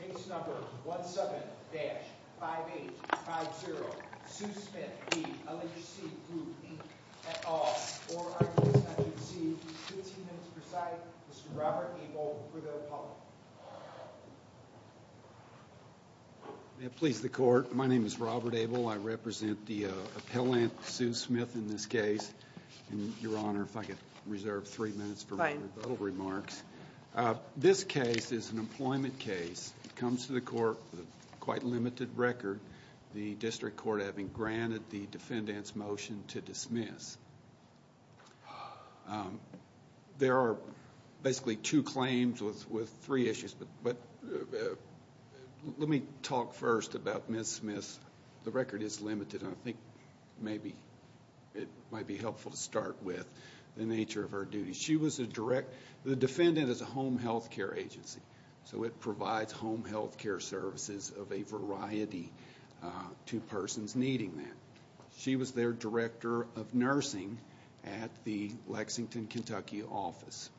Case number 17-5850, Sue Smith v. LHC Group Inc, et al., or LHC, 15 minutes per side. Mr. Robert Abel for the public. May it please the court, my name is Robert Abel, I represent the appellant, Sue Smith in this case. Your Honor, if I could reserve three minutes for my rebuttal remarks. This case is an employment case. It comes to the court with a quite limited record, the district court having granted the defendant's motion to dismiss. There are basically two claims with three issues, but let me talk first about Ms. Smith. The record is limited, and I think it might be helpful to start with the nature of her duties. The defendant is a home health care agency, so it provides home health care services of a variety to persons needing that. She was their director of nursing at the Lexington, Kentucky office.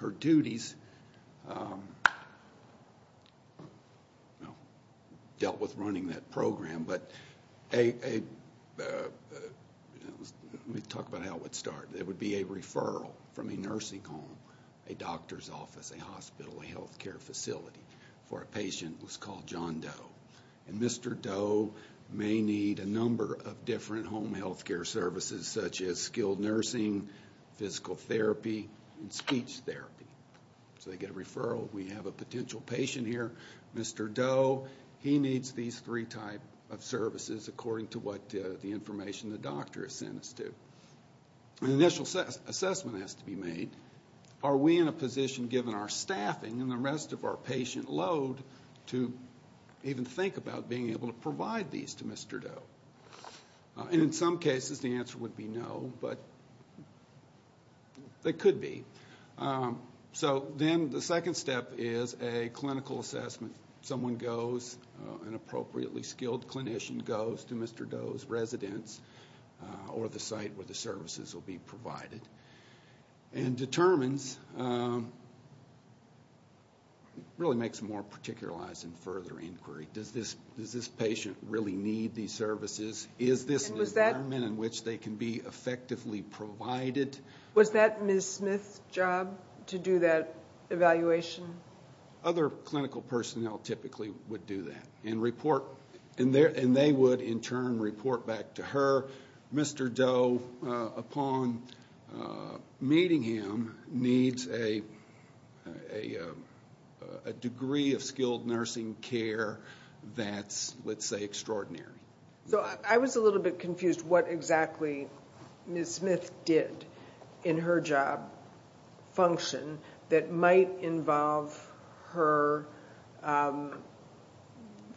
Her duties dealt with running that program, but let me talk about how it would start. It would be a referral from a nursing home, a doctor's office, a hospital, a health care facility for a patient who's called John Doe. Mr. Doe may need a number of different home health care services, such as skilled nursing, physical therapy, and speech therapy. So they get a referral, we have a potential patient here, Mr. Doe, he needs these three types of services, according to what the information the doctor has sent us to. An initial assessment has to be made. Are we in a position, given our staffing and the rest of our patient load, to even think about being able to provide these to Mr. Doe? In some cases, the answer would be no, but they could be. Then the second step is a clinical assessment. Someone goes, an appropriately skilled clinician goes to Mr. Doe's residence or the site where the services will be provided. And determines, really makes them more particularized in further inquiry. Does this patient really need these services? Is this an environment in which they can be effectively provided? Was that Ms. Smith's job to do that evaluation? Other clinical personnel typically would do that. And they would, in turn, report back to her, Mr. Doe, upon meeting him, needs a degree of skilled nursing care that's, let's say, extraordinary. So I was a little bit confused what exactly Ms. Smith did in her job function that might involve her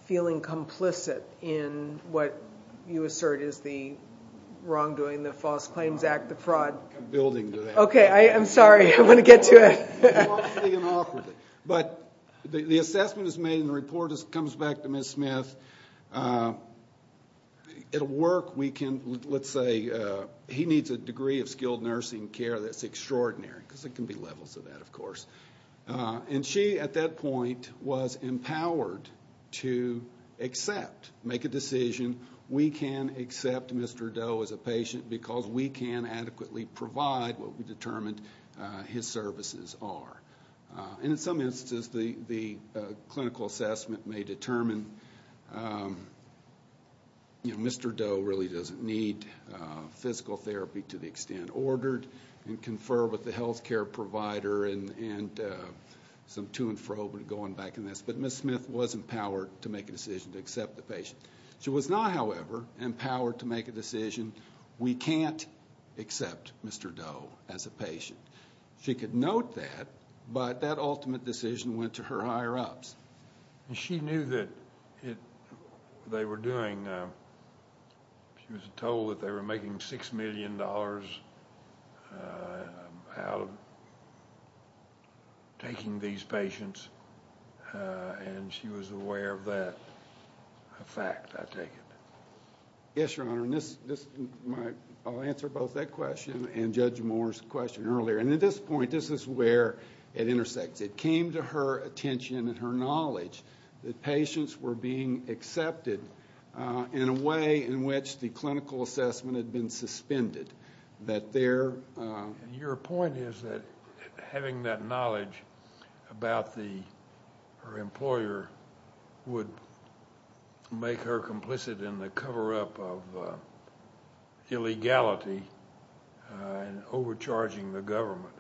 feeling complicit in what you assert is the wrongdoing, the False Claims Act, the fraud. I'm building to that. Okay, I'm sorry. I want to get to it. But the assessment is made and the report comes back to Ms. Smith. It'll work. We can, let's say, he needs a degree of skilled nursing care that's extraordinary, because there can be levels of that, of course. And she, at that point, was empowered to accept, make a decision, we can accept Mr. Doe as a patient because we can adequately provide what we determined his services are. And in some instances, the clinical assessment may determine, you know, Mr. Doe really doesn't need physical therapy to the extent ordered, and confer with the health care provider and some to-and-fro, but going back in this. But Ms. Smith was empowered to make a decision to accept the patient. She was not, however, empowered to make a decision, we can't accept Mr. Doe as a patient. She could note that, but that ultimate decision went to her higher-ups. She knew that they were doing, she was told that they were making $6 million out of taking these patients, and she was aware of that fact, I take it. Yes, Your Honor, and this, I'll answer both that question and Judge Moore's question earlier. And at this point, this is where it intersects. It came to her attention and her knowledge that patients were being accepted in a way in which the clinical assessment had been suspended. Your point is that having that knowledge about the employer would make her complicit in the cover-up of illegality and overcharging the government,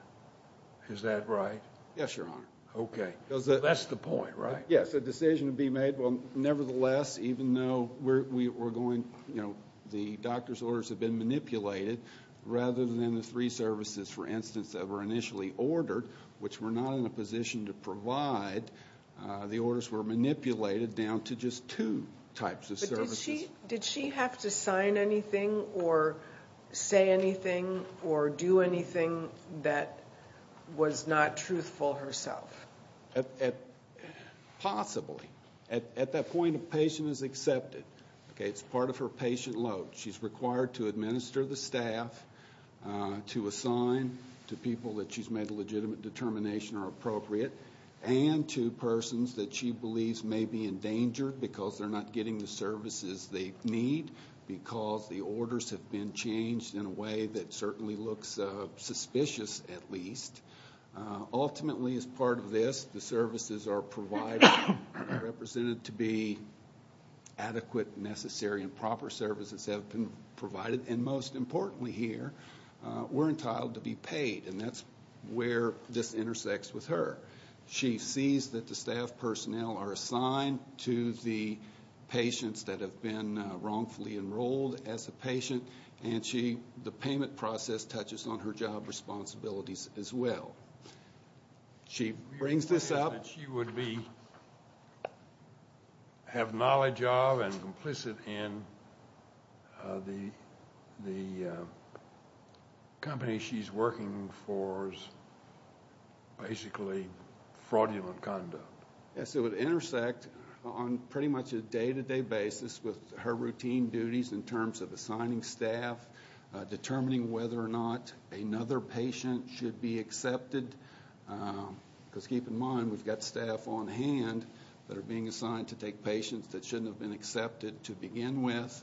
is that right? Yes, Your Honor. Okay, that's the point, right? Yes, a decision to be made. Well, nevertheless, even though the doctor's orders had been manipulated, rather than the three services, for instance, that were initially ordered, which were not in a position to provide, the orders were manipulated down to just two types of services. But did she have to sign anything or say anything or do anything that was not truthful herself? Possibly. At that point, a patient is accepted. Okay, it's part of her patient load. She's required to administer the staff, to assign to people that she's made a legitimate determination are appropriate, and to persons that she believes may be in danger because they're not getting the services they need because the orders have been changed in a way that certainly looks suspicious, at least. Ultimately, as part of this, the services are provided, are represented to be adequate, necessary, and proper services that have been provided. And most importantly here, we're entitled to be paid, and that's where this intersects with her. She sees that the staff personnel are assigned to the patients that have been wrongfully enrolled as a patient, and the payment process touches on her job responsibilities as well. She brings this up. She would have knowledge of and complicit in the company she's working for's basically fraudulent conduct. Yes, it would intersect on pretty much a day-to-day basis with her routine duties in terms of assigning staff, determining whether or not another patient should be accepted, because keep in mind we've got staff on hand that are being assigned to take patients that shouldn't have been accepted to begin with.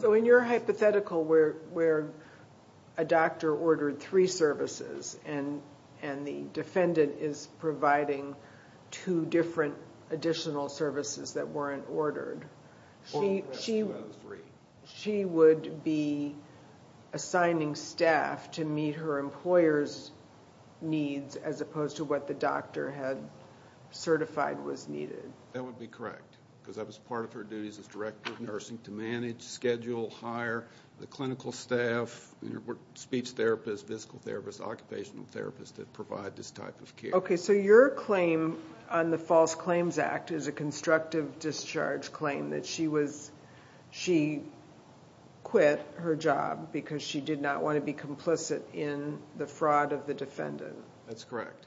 So in your hypothetical where a doctor ordered three services and the defendant is providing two different additional services that weren't ordered, she would be assigning staff to meet her employer's needs as opposed to what the doctor had certified was needed. That would be correct, because that was part of her duties as director of nursing, to manage, schedule, hire the clinical staff, speech therapists, physical therapists, occupational therapists that provide this type of care. Okay, so your claim on the False Claims Act is a constructive discharge claim, that she quit her job because she did not want to be complicit in the fraud of the defendant. That's correct.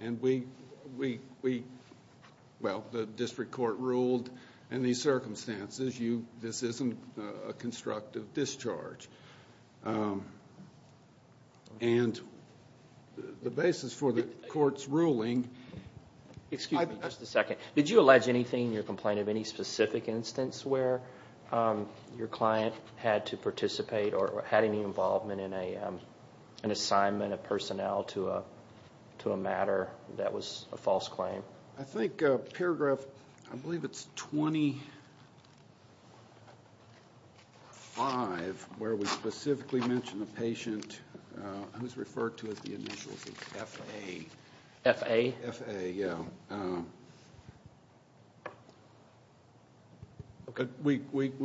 And we, well, the district court ruled in these circumstances, this isn't a constructive discharge. And the basis for the court's ruling... Excuse me just a second. Did you allege anything in your complaint of any specific instance where your client had to participate or had any involvement in an assignment of personnel to a matter that was a false claim? I think paragraph, I believe it's 25, where we specifically mention a patient who's referred to as the initials of F.A. F.A.? F.A., yeah. And we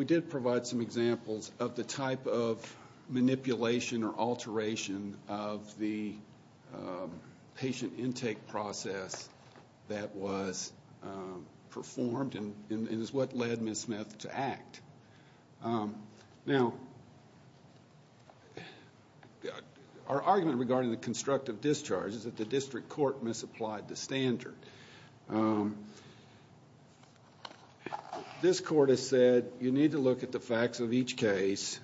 did provide some examples of the type of manipulation or alteration of the patient intake process that was performed and is what led Ms. Smith to act. Now, our argument regarding the constructive discharge is that the district court misapplied the standard. This court has said you need to look at the facts of each case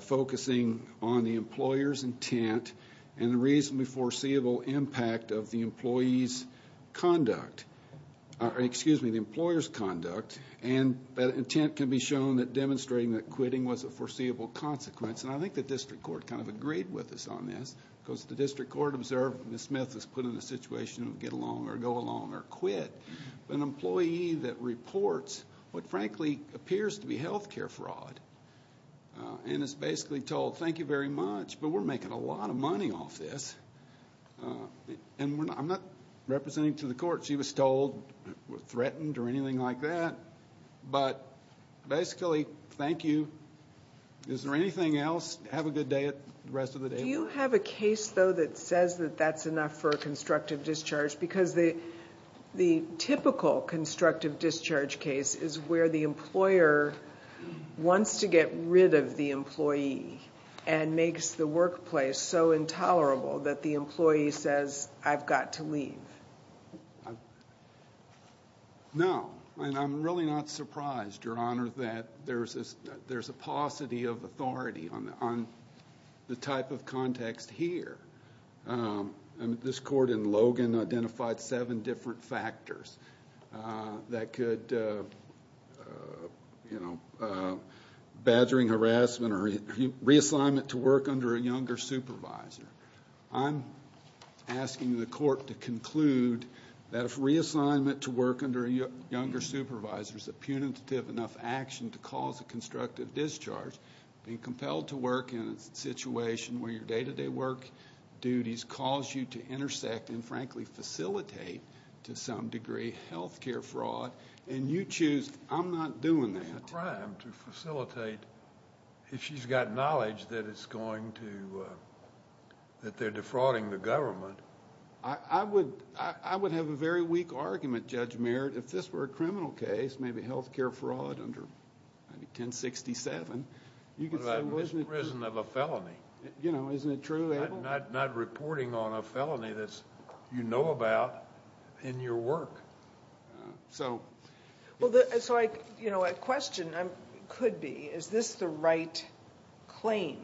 focusing on the employer's intent and the reasonably foreseeable impact of the employee's conduct, excuse me, the employer's conduct, and that intent can be shown that demonstrating that quitting was a foreseeable consequence. And I think the district court kind of agreed with us on this because the district court observed Ms. Smith was put in a situation of get along or go along or quit. An employee that reports what frankly appears to be health care fraud and is basically told, thank you very much, but we're making a lot of money off this. And I'm not representing to the court she was told or threatened or anything like that, but basically, thank you. Is there anything else? Have a good day the rest of the day. Do you have a case, though, that says that that's enough for a constructive discharge? Because the typical constructive discharge case is where the employer wants to get rid of the employee and makes the workplace so intolerable that the employee says, I've got to leave. No, and I'm really not surprised, Your Honor, that there's a paucity of authority on the type of context here. This court in Logan identified seven different factors that could, you know, badgering, harassment, or reassignment to work under a younger supervisor. I'm asking the court to conclude that if reassignment to work under a younger supervisor is a punitive enough action to cause a constructive discharge, being compelled to work in a situation where your day-to-day work duties cause you to intersect and, frankly, facilitate to some degree health care fraud, and you choose, I'm not doing that. It's a crime to facilitate if she's got knowledge that it's going to, that they're defrauding the government. I would have a very weak argument, Judge Merritt, if this were a criminal case, maybe health care fraud under 1067. But I'm in prison of a felony. Isn't it true, Abel? I'm not reporting on a felony that you know about in your work. A question could be, is this the right claim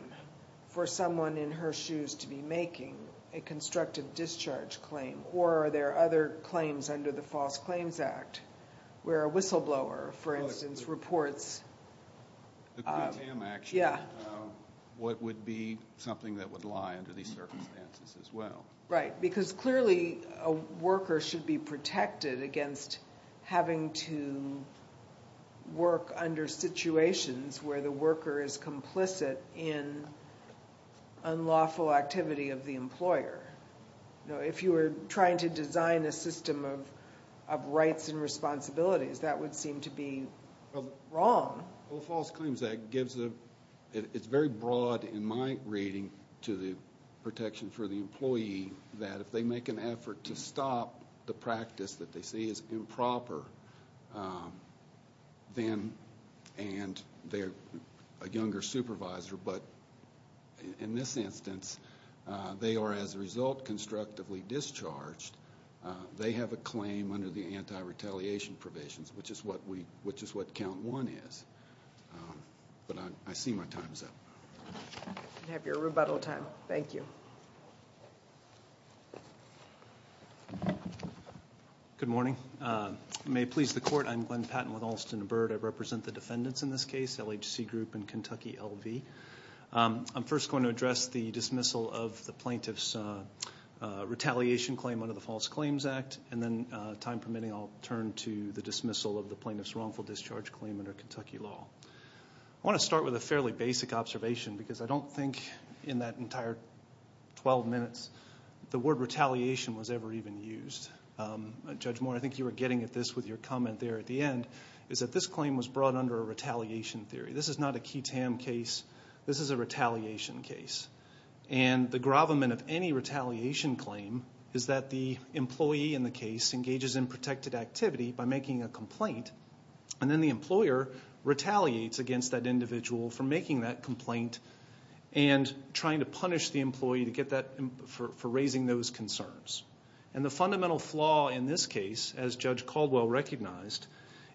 for someone in her shoes to be making a constructive discharge claim, or are there other claims under the False Claims Act, where a whistleblower, for instance, reports? The Quintam action would be something that would lie under these circumstances as well. Right, because clearly a worker should be protected against having to work under situations where the worker is complicit in unlawful activity of the employer. If you were trying to design a system of rights and responsibilities, that would seem to be wrong. Well, the False Claims Act gives a, it's very broad in my reading to the protection for the employee that if they make an effort to stop the practice that they see as improper, then, and they're a younger supervisor, but in this instance they are as a result constructively discharged. They have a claim under the Anti-Retaliation Provisions, which is what count one is. But I see my time is up. We have your rebuttal time. Thank you. Good morning. May it please the court, I'm Glenn Patton with Alston and Byrd. I represent the defendants in this case, LHC Group and Kentucky LV. I'm first going to address the dismissal of the plaintiff's retaliation claim under the False Claims Act, and then time permitting I'll turn to the dismissal of the plaintiff's wrongful discharge claim under Kentucky law. I want to start with a fairly basic observation because I don't think in that entire 12 minutes the word retaliation was ever even used. Judge Moore, I think you were getting at this with your comment there at the end, is that this claim was brought under a retaliation theory. This is not a key tam case. This is a retaliation case. And the gravamen of any retaliation claim is that the employee in the case engages in protected activity by making a complaint, and then the employer retaliates against that individual for making that complaint and trying to punish the employee for raising those concerns. And the fundamental flaw in this case, as Judge Caldwell recognized,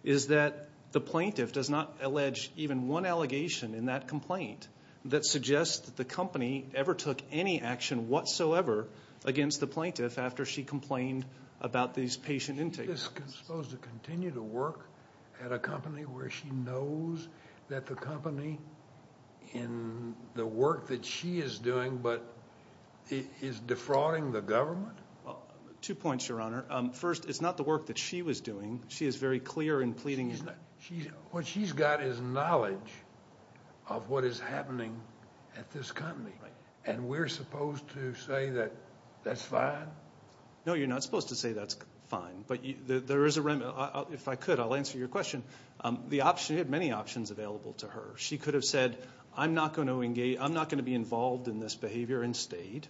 is that the plaintiff does not allege even one allegation in that complaint that suggests that the company ever took any action whatsoever against the plaintiff after she complained about these patient intakes. Is she supposed to continue to work at a company where she knows that the company in the work that she is doing but is defrauding the government? Two points, Your Honor. First, it's not the work that she was doing. She is very clear in pleading. What she's got is knowledge of what is happening at this company. And we're supposed to say that that's fine? No, you're not supposed to say that's fine. But there is a remedy. If I could, I'll answer your question. You have many options available to her. She could have said, I'm not going to be involved in this behavior and stayed.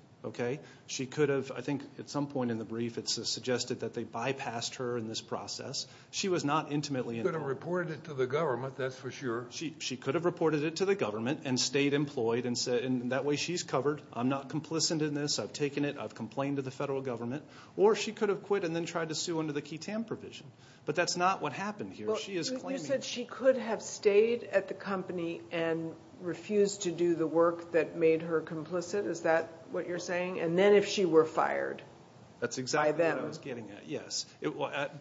She could have, I think at some point in the brief it's suggested that they bypassed her in this process. She was not intimately involved. She could have reported it to the government, that's for sure. She could have reported it to the government and stayed employed and said, and that way she's covered, I'm not complicit in this, I've taken it, I've complained to the federal government. Or she could have quit and then tried to sue under the QTAM provision. But that's not what happened here. You said she could have stayed at the company and refused to do the work that made her complicit. Is that what you're saying? And then if she were fired by them. That's exactly what I was getting at, yes.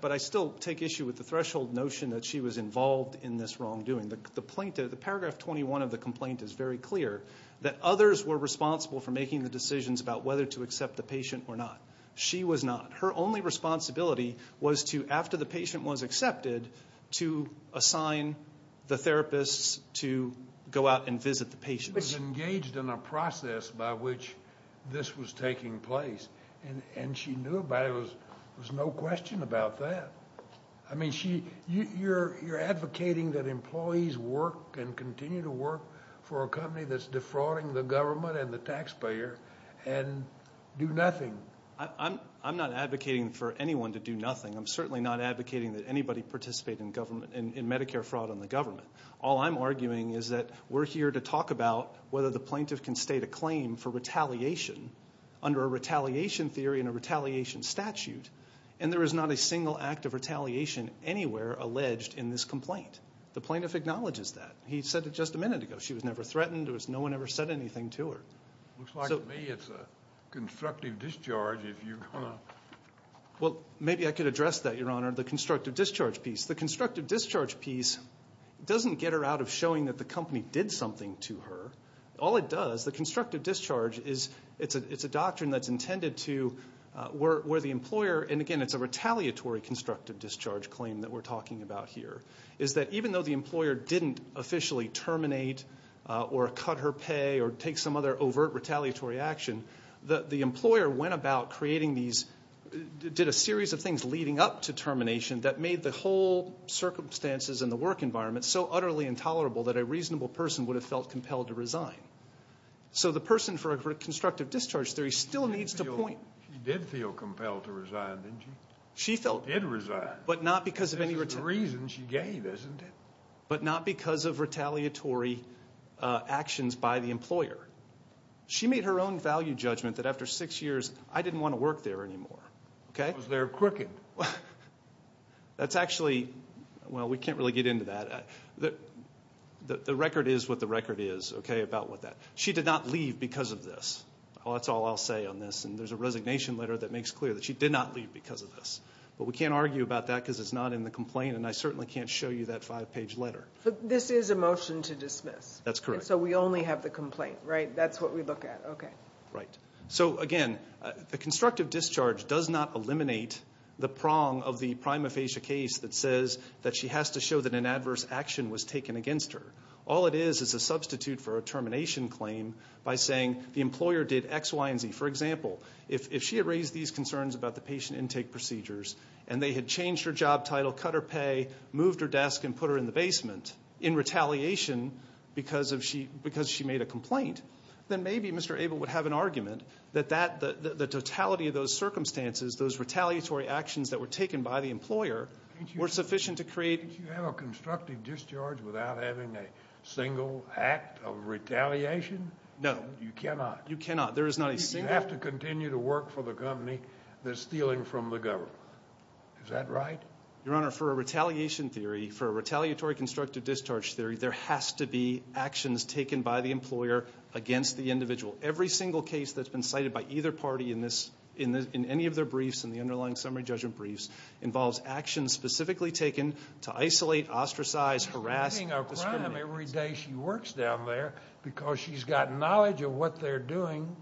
But I still take issue with the threshold notion that she was involved in this wrongdoing. The paragraph 21 of the complaint is very clear, that others were responsible for making the decisions about whether to accept the patient or not. She was not. Her only responsibility was to, after the patient was accepted, to assign the therapists to go out and visit the patient. But she was engaged in a process by which this was taking place. And she knew about it. There was no question about that. I mean, you're advocating that employees work and continue to work for a company that's defrauding the government and the taxpayer and do nothing. I'm not advocating for anyone to do nothing. I'm certainly not advocating that anybody participate in Medicare fraud on the government. All I'm arguing is that we're here to talk about whether the plaintiff can state a claim for retaliation under a retaliation theory and a retaliation statute, and there is not a single act of retaliation anywhere alleged in this complaint. The plaintiff acknowledges that. He said it just a minute ago. She was never threatened. No one ever said anything to her. Looks like to me it's a constructive discharge if you're going to. Well, maybe I could address that, Your Honor, the constructive discharge piece. The constructive discharge piece doesn't get her out of showing that the company did something to her. All it does, the constructive discharge, it's a doctrine that's intended to where the employer, and again it's a retaliatory constructive discharge claim that we're talking about here, is that even though the employer didn't officially terminate or cut her pay or take some other overt retaliatory action, the employer went about creating these, did a series of things leading up to termination that made the whole circumstances in the work environment so utterly intolerable that a reasonable person would have felt compelled to resign. So the person for a constructive discharge theory still needs to point. She did feel compelled to resign, didn't she? She felt. She did resign. But not because of any retaliation. This is the reason she gave, isn't it? But not because of retaliatory actions by the employer. She made her own value judgment that after six years, I didn't want to work there anymore. Because they're crooked. That's actually, well, we can't really get into that. The record is what the record is about that. She did not leave because of this. That's all I'll say on this, and there's a resignation letter that makes clear that she did not leave because of this. But we can't argue about that because it's not in the complaint, and I certainly can't show you that five-page letter. This is a motion to dismiss. That's correct. So we only have the complaint, right? That's what we look at. Okay. Right. So, again, the constructive discharge does not eliminate the prong of the prima facie case that says that she has to show that an adverse action was taken against her. All it is is a substitute for a termination claim by saying the employer did X, Y, and Z. For example, if she had raised these concerns about the patient intake procedures and they had changed her job title, cut her pay, moved her desk, and put her in the basement in retaliation because she made a complaint, then maybe Mr. Abel would have an argument that the totality of those circumstances, those retaliatory actions that were taken by the employer, were sufficient to create... Can't you have a constructive discharge without having a single act of retaliation? No. You cannot. You cannot. There is not a single... You have to continue to work for the company that's stealing from the government. Is that right? Your Honor, for a retaliation theory, for a retaliatory constructive discharge theory, there has to be actions taken by the employer against the individual. Every single case that's been cited by either party in any of their briefs and the underlying summary judgment briefs involves actions specifically taken to isolate, ostracize, harass, and discriminate. Every day she works down there because she's got knowledge of what they're doing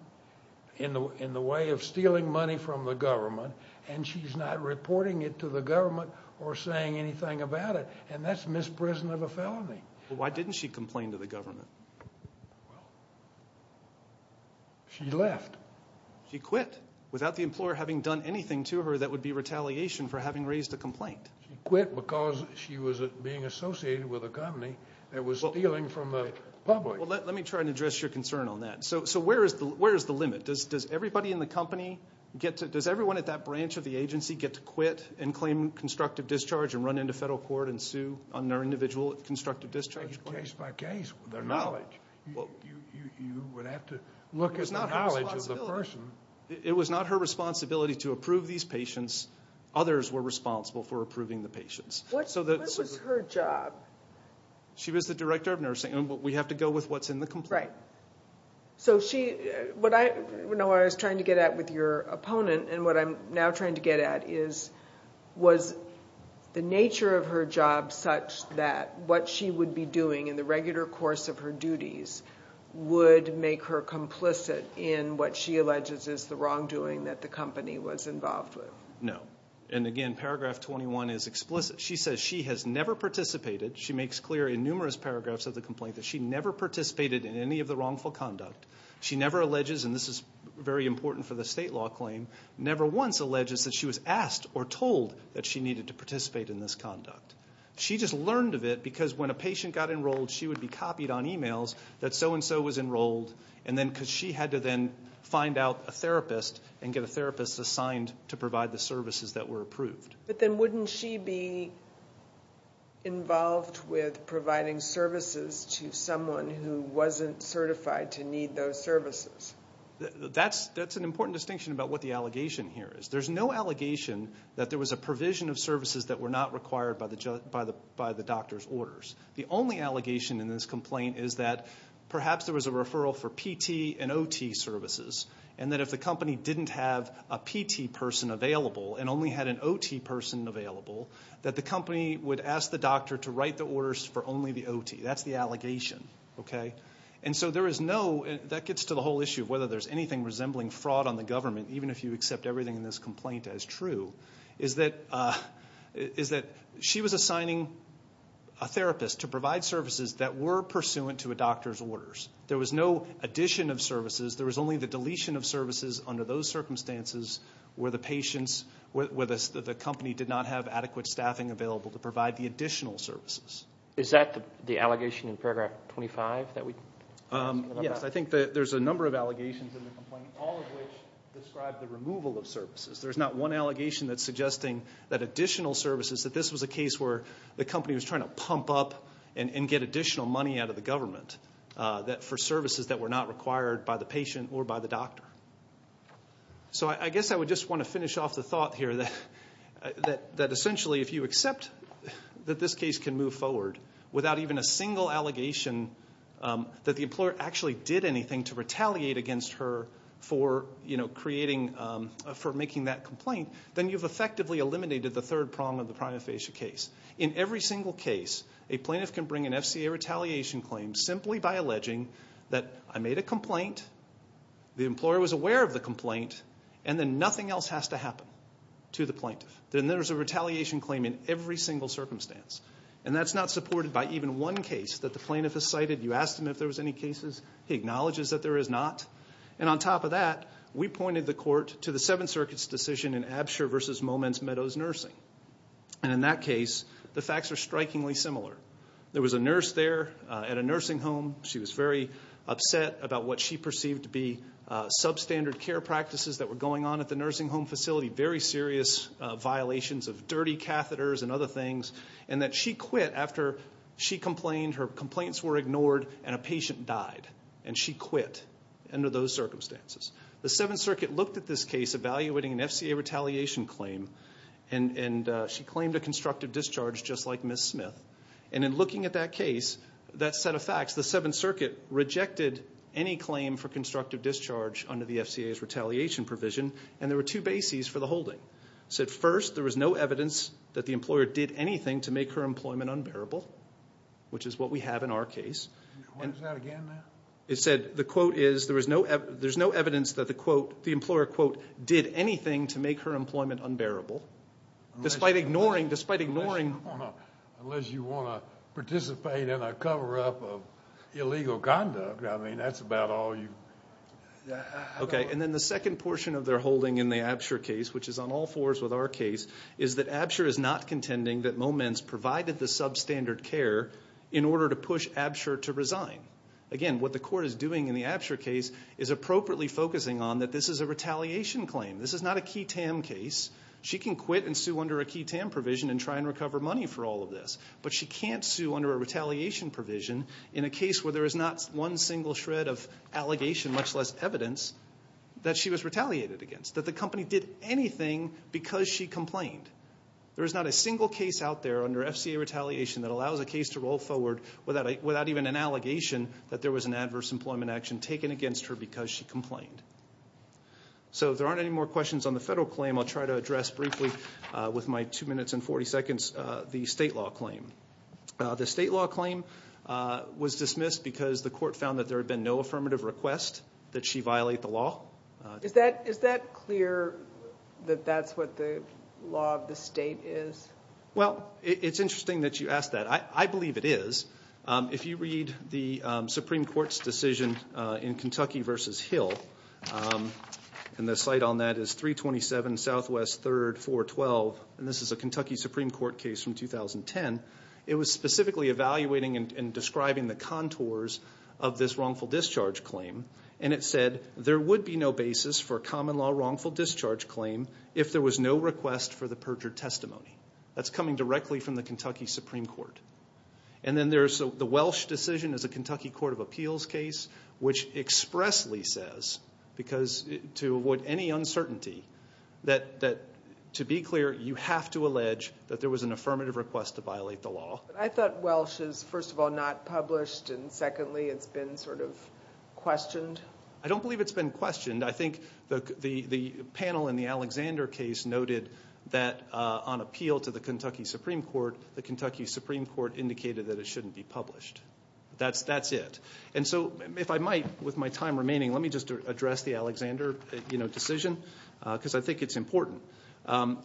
in the way of stealing money from the government and she's not reporting it to the government or saying anything about it, and that's misprison of a felony. Why didn't she complain to the government? She left. She quit without the employer having done anything to her that would be retaliation for having raised a complaint. She quit because she was being associated with a company that was stealing from the public. Well, let me try and address your concern on that. So where is the limit? Does everybody in the company get to... Does everyone at that branch of the agency get to quit and claim constructive discharge and run into federal court and sue on their individual constructive discharge claim? Case by case with their knowledge. You would have to look at the knowledge of the person. It was not her responsibility to approve these patients. Others were responsible for approving the patients. What was her job? She was the director of nursing. We have to go with what's in the complaint. Right. What I was trying to get at with your opponent and what I'm now trying to get at is was the nature of her job such that what she would be doing in the regular course of her duties would make her complicit in what she alleges is the wrongdoing that the company was involved with? No. And again, paragraph 21 is explicit. She says she has never participated. She makes clear in numerous paragraphs of the complaint that she never participated in any of the wrongful conduct. She never alleges, and this is very important for the state law claim, never once alleges that she was asked or told that she needed to participate in this conduct. She just learned of it because when a patient got enrolled, she would be copied on emails that so-and-so was enrolled because she had to then find out a therapist and get a therapist assigned to provide the services that were approved. But then wouldn't she be involved with providing services to someone who wasn't certified to need those services? That's an important distinction about what the allegation here is. There's no allegation that there was a provision of services that were not required by the doctor's orders. The only allegation in this complaint is that perhaps there was a referral for PT and OT services and that if the company didn't have a PT person available and only had an OT person available, that the company would ask the doctor to write the orders for only the OT. That's the allegation. That gets to the whole issue of whether there's anything resembling fraud on the government, even if you accept everything in this complaint as true, is that she was assigning a therapist to provide services that were pursuant to a doctor's orders. There was no addition of services. There was only the deletion of services under those circumstances where the company did not have adequate staffing available to provide the additional services. Is that the allegation in paragraph 25? Yes. I think there's a number of allegations in the complaint, all of which describe the removal of services. There's not one allegation that's suggesting that additional services, that this was a case where the company was trying to pump up and get additional money out of the government for services that were not required by the patient or by the doctor. I guess I would just want to finish off the thought here that essentially if you accept that this case can move forward without even a single allegation that the employer actually did anything to retaliate against her for making that complaint, then you've effectively eliminated the third prong of the prima facie case. In every single case, a plaintiff can bring an FCA retaliation claim simply by alleging that I made a complaint, the employer was aware of the complaint, and then nothing else has to happen to the plaintiff. Then there's a retaliation claim in every single circumstance. And that's not supported by even one case that the plaintiff has cited. You asked him if there was any cases. He acknowledges that there is not. And on top of that, we pointed the court to the Seventh Circuit's decision in Absher v. Moments Meadows Nursing. And in that case, the facts are strikingly similar. There was a nurse there at a nursing home. She was very upset about what she perceived to be substandard care practices that were going on at the nursing home facility, very serious violations of dirty catheters and other things, and that she quit after she complained, her complaints were ignored, and a patient died. And she quit under those circumstances. The Seventh Circuit looked at this case evaluating an FCA retaliation claim and she claimed a constructive discharge just like Ms. Smith. And in looking at that case, that set of facts, the Seventh Circuit rejected any claim for constructive discharge under the FCA's retaliation provision, and there were two bases for the holding. It said, first, there was no evidence that the employer did anything to make her employment unbearable, which is what we have in our case. And it said, the quote is, there's no evidence that the employer, quote, did anything to make her employment unbearable, despite ignoring Unless you want to participate in a cover-up of illegal conduct. I mean, that's about all you... Okay, and then the second portion of their holding in the Absher case, which is on all fours with our case, is that Absher is not contending that Moments provided the substandard care in order to push Absher to resign. Again, what the court is doing in the Absher case is appropriately focusing on that this is a retaliation claim. This is not a key TAM case. She can quit and sue under a key TAM provision and try and recover money for all of this, but she can't sue under a retaliation provision in a case where there is not one single shred of allegation, much less evidence, that she was retaliated against, that the company did anything because she complained. There is not a single case out there under FCA retaliation that allows a case to roll forward without even an allegation that there was an adverse employment action taken against her because she complained. So if there aren't any more questions on the federal claim, I'll try to address briefly with my 2 minutes and 40 seconds the state law claim. The state law claim was dismissed because the court found that there had been no affirmative request that she violate the law. Is that clear that that's what the law of the state is? Well, it's interesting that you ask that. I believe it is. If you read the Supreme Court's decision in Kentucky v. Hill, and the site on that is 327 Southwest 3rd 412, and this is a Kentucky Supreme Court case from 2010, it was specifically evaluating and describing the contours of this wrongful discharge claim, and it said there would be no basis for a common law wrongful discharge claim if there was no request for the perjured testimony. That's coming directly from the Kentucky Supreme Court. And then there's the Welsh decision as a Kentucky Court of Appeals case, which expressly says, to avoid any uncertainty, that to be clear you have to allege that there was an affirmative request to violate the law. I thought Welsh is, first of all, not published, and secondly, it's been sort of questioned. I don't believe it's been questioned. I think the panel in the Alexander case noted that on appeal to the Kentucky Supreme Court, the Kentucky Supreme Court indicated that it shouldn't be published. That's it. And so if I might, with my time remaining, let me just address the Alexander decision because I think it's important.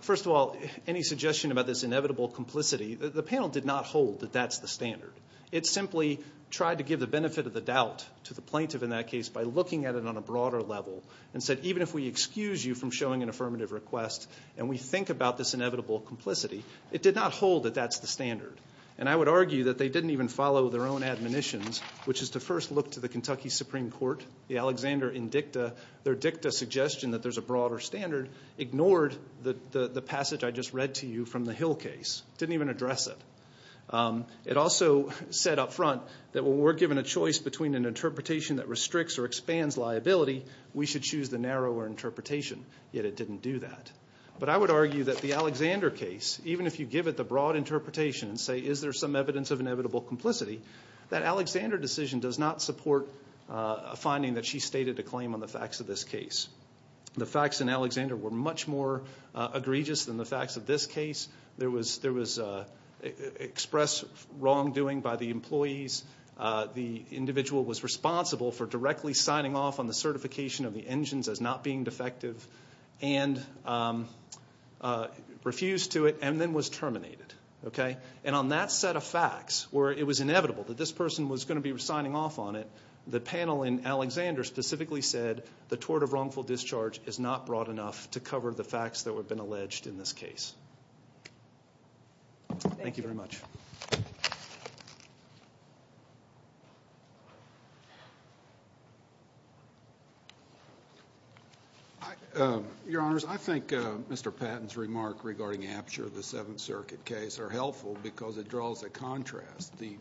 First of all, any suggestion about this inevitable complicity, the panel did not hold that that's the standard. It simply tried to give the benefit of the doubt to the plaintiff in that case by looking at it on a broader level and said, even if we excuse you from showing an affirmative request and we think about this inevitable complicity, it did not hold that that's the standard. And I would argue that they didn't even follow their own admonitions, which is to first look to the Kentucky Supreme Court, the Alexander indicta. Their dicta suggestion that there's a broader standard ignored the passage I just read to you from the Hill case, didn't even address it. It also said up front that we're given a choice between an interpretation that restricts or expands liability, we should choose the narrower interpretation, yet it didn't do that. But I would argue that the Alexander case, even if you give it the broad interpretation and say is there some evidence of inevitable complicity, that Alexander decision does not support a finding that she stated to claim on the facts of this case. The facts in Alexander were much more egregious than the facts of this case. There was expressed wrongdoing by the employees, the individual was responsible for directly signing off on the certification of the engines as not being defective and refused to it and then was terminated. And on that set of facts where it was inevitable that this person was going to be signing off on it, the panel in Alexander specifically said the tort of wrongful discharge is not broad enough to cover the facts that have been alleged in this case. Thank you very much. Your Honors, I think Mr. Patton's remark regarding Apsher, the Seventh Circuit case, are helpful because it draws a contrast. The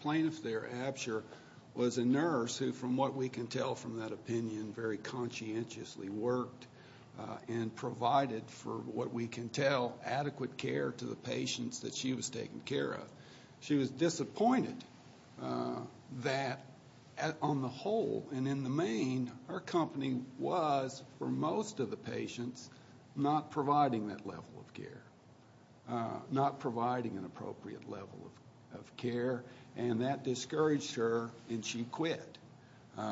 plaintiff there, Apsher, was a nurse who, from what we can tell from that opinion, very conscientiously worked and provided, for what we can tell, adequate care to the patients that she was taking care of. She was disappointed that, on the whole and in the main, her company was, for most of the patients, not providing that level of care, not providing an appropriate level of care, and that discouraged her and she quit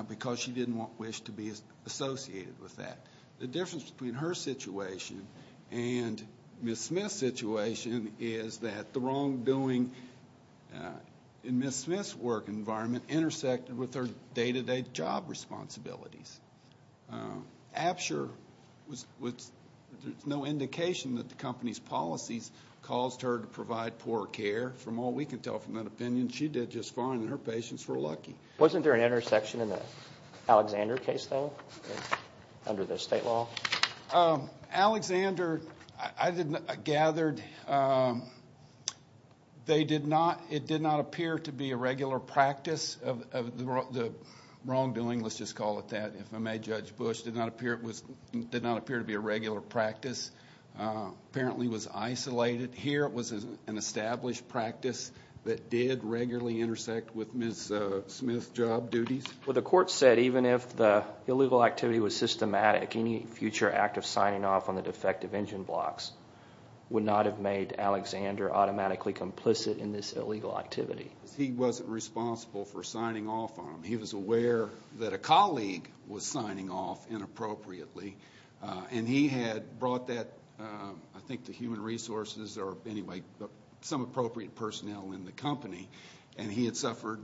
because she didn't wish to be associated with that. The difference between her situation and Ms. Smith's situation is that the wrongdoing in Ms. Smith's work environment intersected with her day-to-day job responsibilities. Apsher, there's no indication that the company's policies caused her to provide poor care. From what we can tell from that opinion, she did just fine and her patients were lucky. Wasn't there an intersection in the Alexander case, though, under the state law? Alexander, I gathered, it did not appear to be a regular practice of the wrongdoing. Let's just call it that, if I may, Judge Bush. It did not appear to be a regular practice. Apparently it was isolated. Here it was an established practice that did regularly intersect with Ms. Smith's job duties. Well, the court said even if the illegal activity was systematic, any future act of signing off on the defective engine blocks would not have made Alexander automatically complicit in this illegal activity. He wasn't responsible for signing off on them. He was aware that a colleague was signing off inappropriately, and he had brought that, I think, to Human Resources or some appropriate personnel in the company, and he had suffered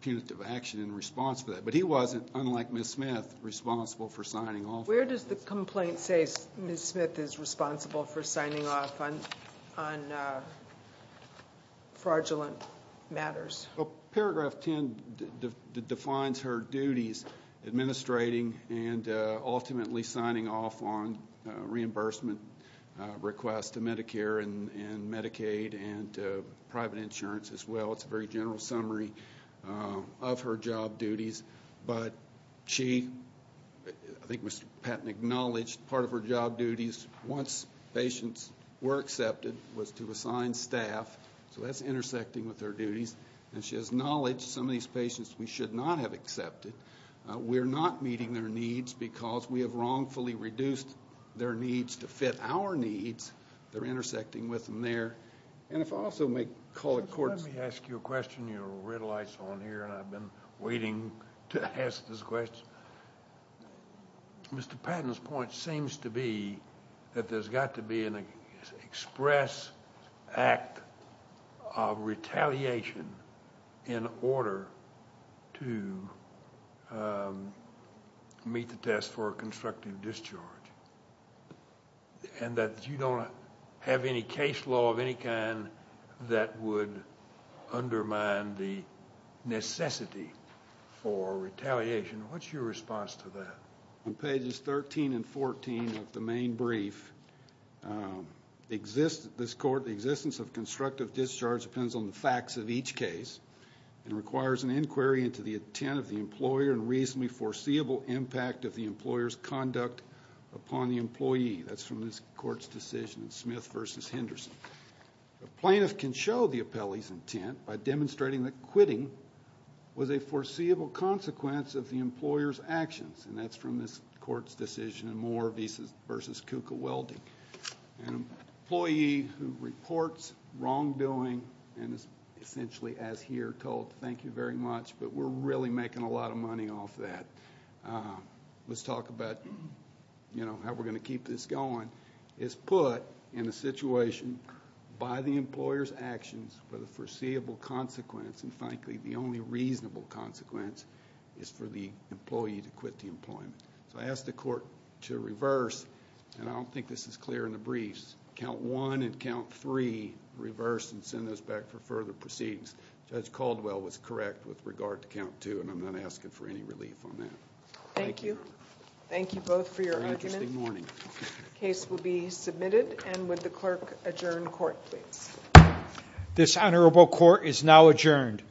punitive action in response to that. But he wasn't, unlike Ms. Smith, responsible for signing off. Where does the complaint say Ms. Smith is responsible for signing off on fraudulent matters? Paragraph 10 defines her duties, administrating and ultimately signing off on reimbursement requests to Medicare and Medicaid and private insurance as well. It's a very general summary of her job duties. But she, I think Mr. Patton acknowledged part of her job duties once patients were accepted was to assign staff. So that's intersecting with her duties. And she has acknowledged some of these patients we should not have accepted. We're not meeting their needs because we have wrongfully reduced their needs to fit our needs. They're intersecting with them there. Let me ask you a question. Your red light's on here, and I've been waiting to ask this question. Mr. Patton's point seems to be that there's got to be an express act of retaliation in order to meet the test for a constructive discharge and that you don't have any case law of any kind that would undermine the necessity for retaliation. What's your response to that? On pages 13 and 14 of the main brief, this court, the existence of constructive discharge depends on the facts of each case and requires an inquiry into the intent of the employer and reasonably foreseeable impact of the employer's conduct upon the employee. That's from this court's decision in Smith v. Henderson. The plaintiff can show the appellee's intent by demonstrating that quitting was a foreseeable consequence of the employer's actions, and that's from this court's decision in Moore v. Kuka Welding. An employee who reports wrongdoing and is essentially, as here, told, thank you very much, but we're really making a lot of money off that. Let's talk about how we're going to keep this going, is put in a situation by the employer's actions where the foreseeable consequence, and frankly the only reasonable consequence, is for the employee to quit the employment. So I ask the court to reverse, and I don't think this is clear in the briefs, count one and count three, reverse and send those back for further proceedings. Judge Caldwell was correct with regard to count two, and I'm not asking for any relief on that. Thank you. Thank you both for your argument. Very interesting morning. The case will be submitted, and would the clerk adjourn court, please? This honorable court is now adjourned.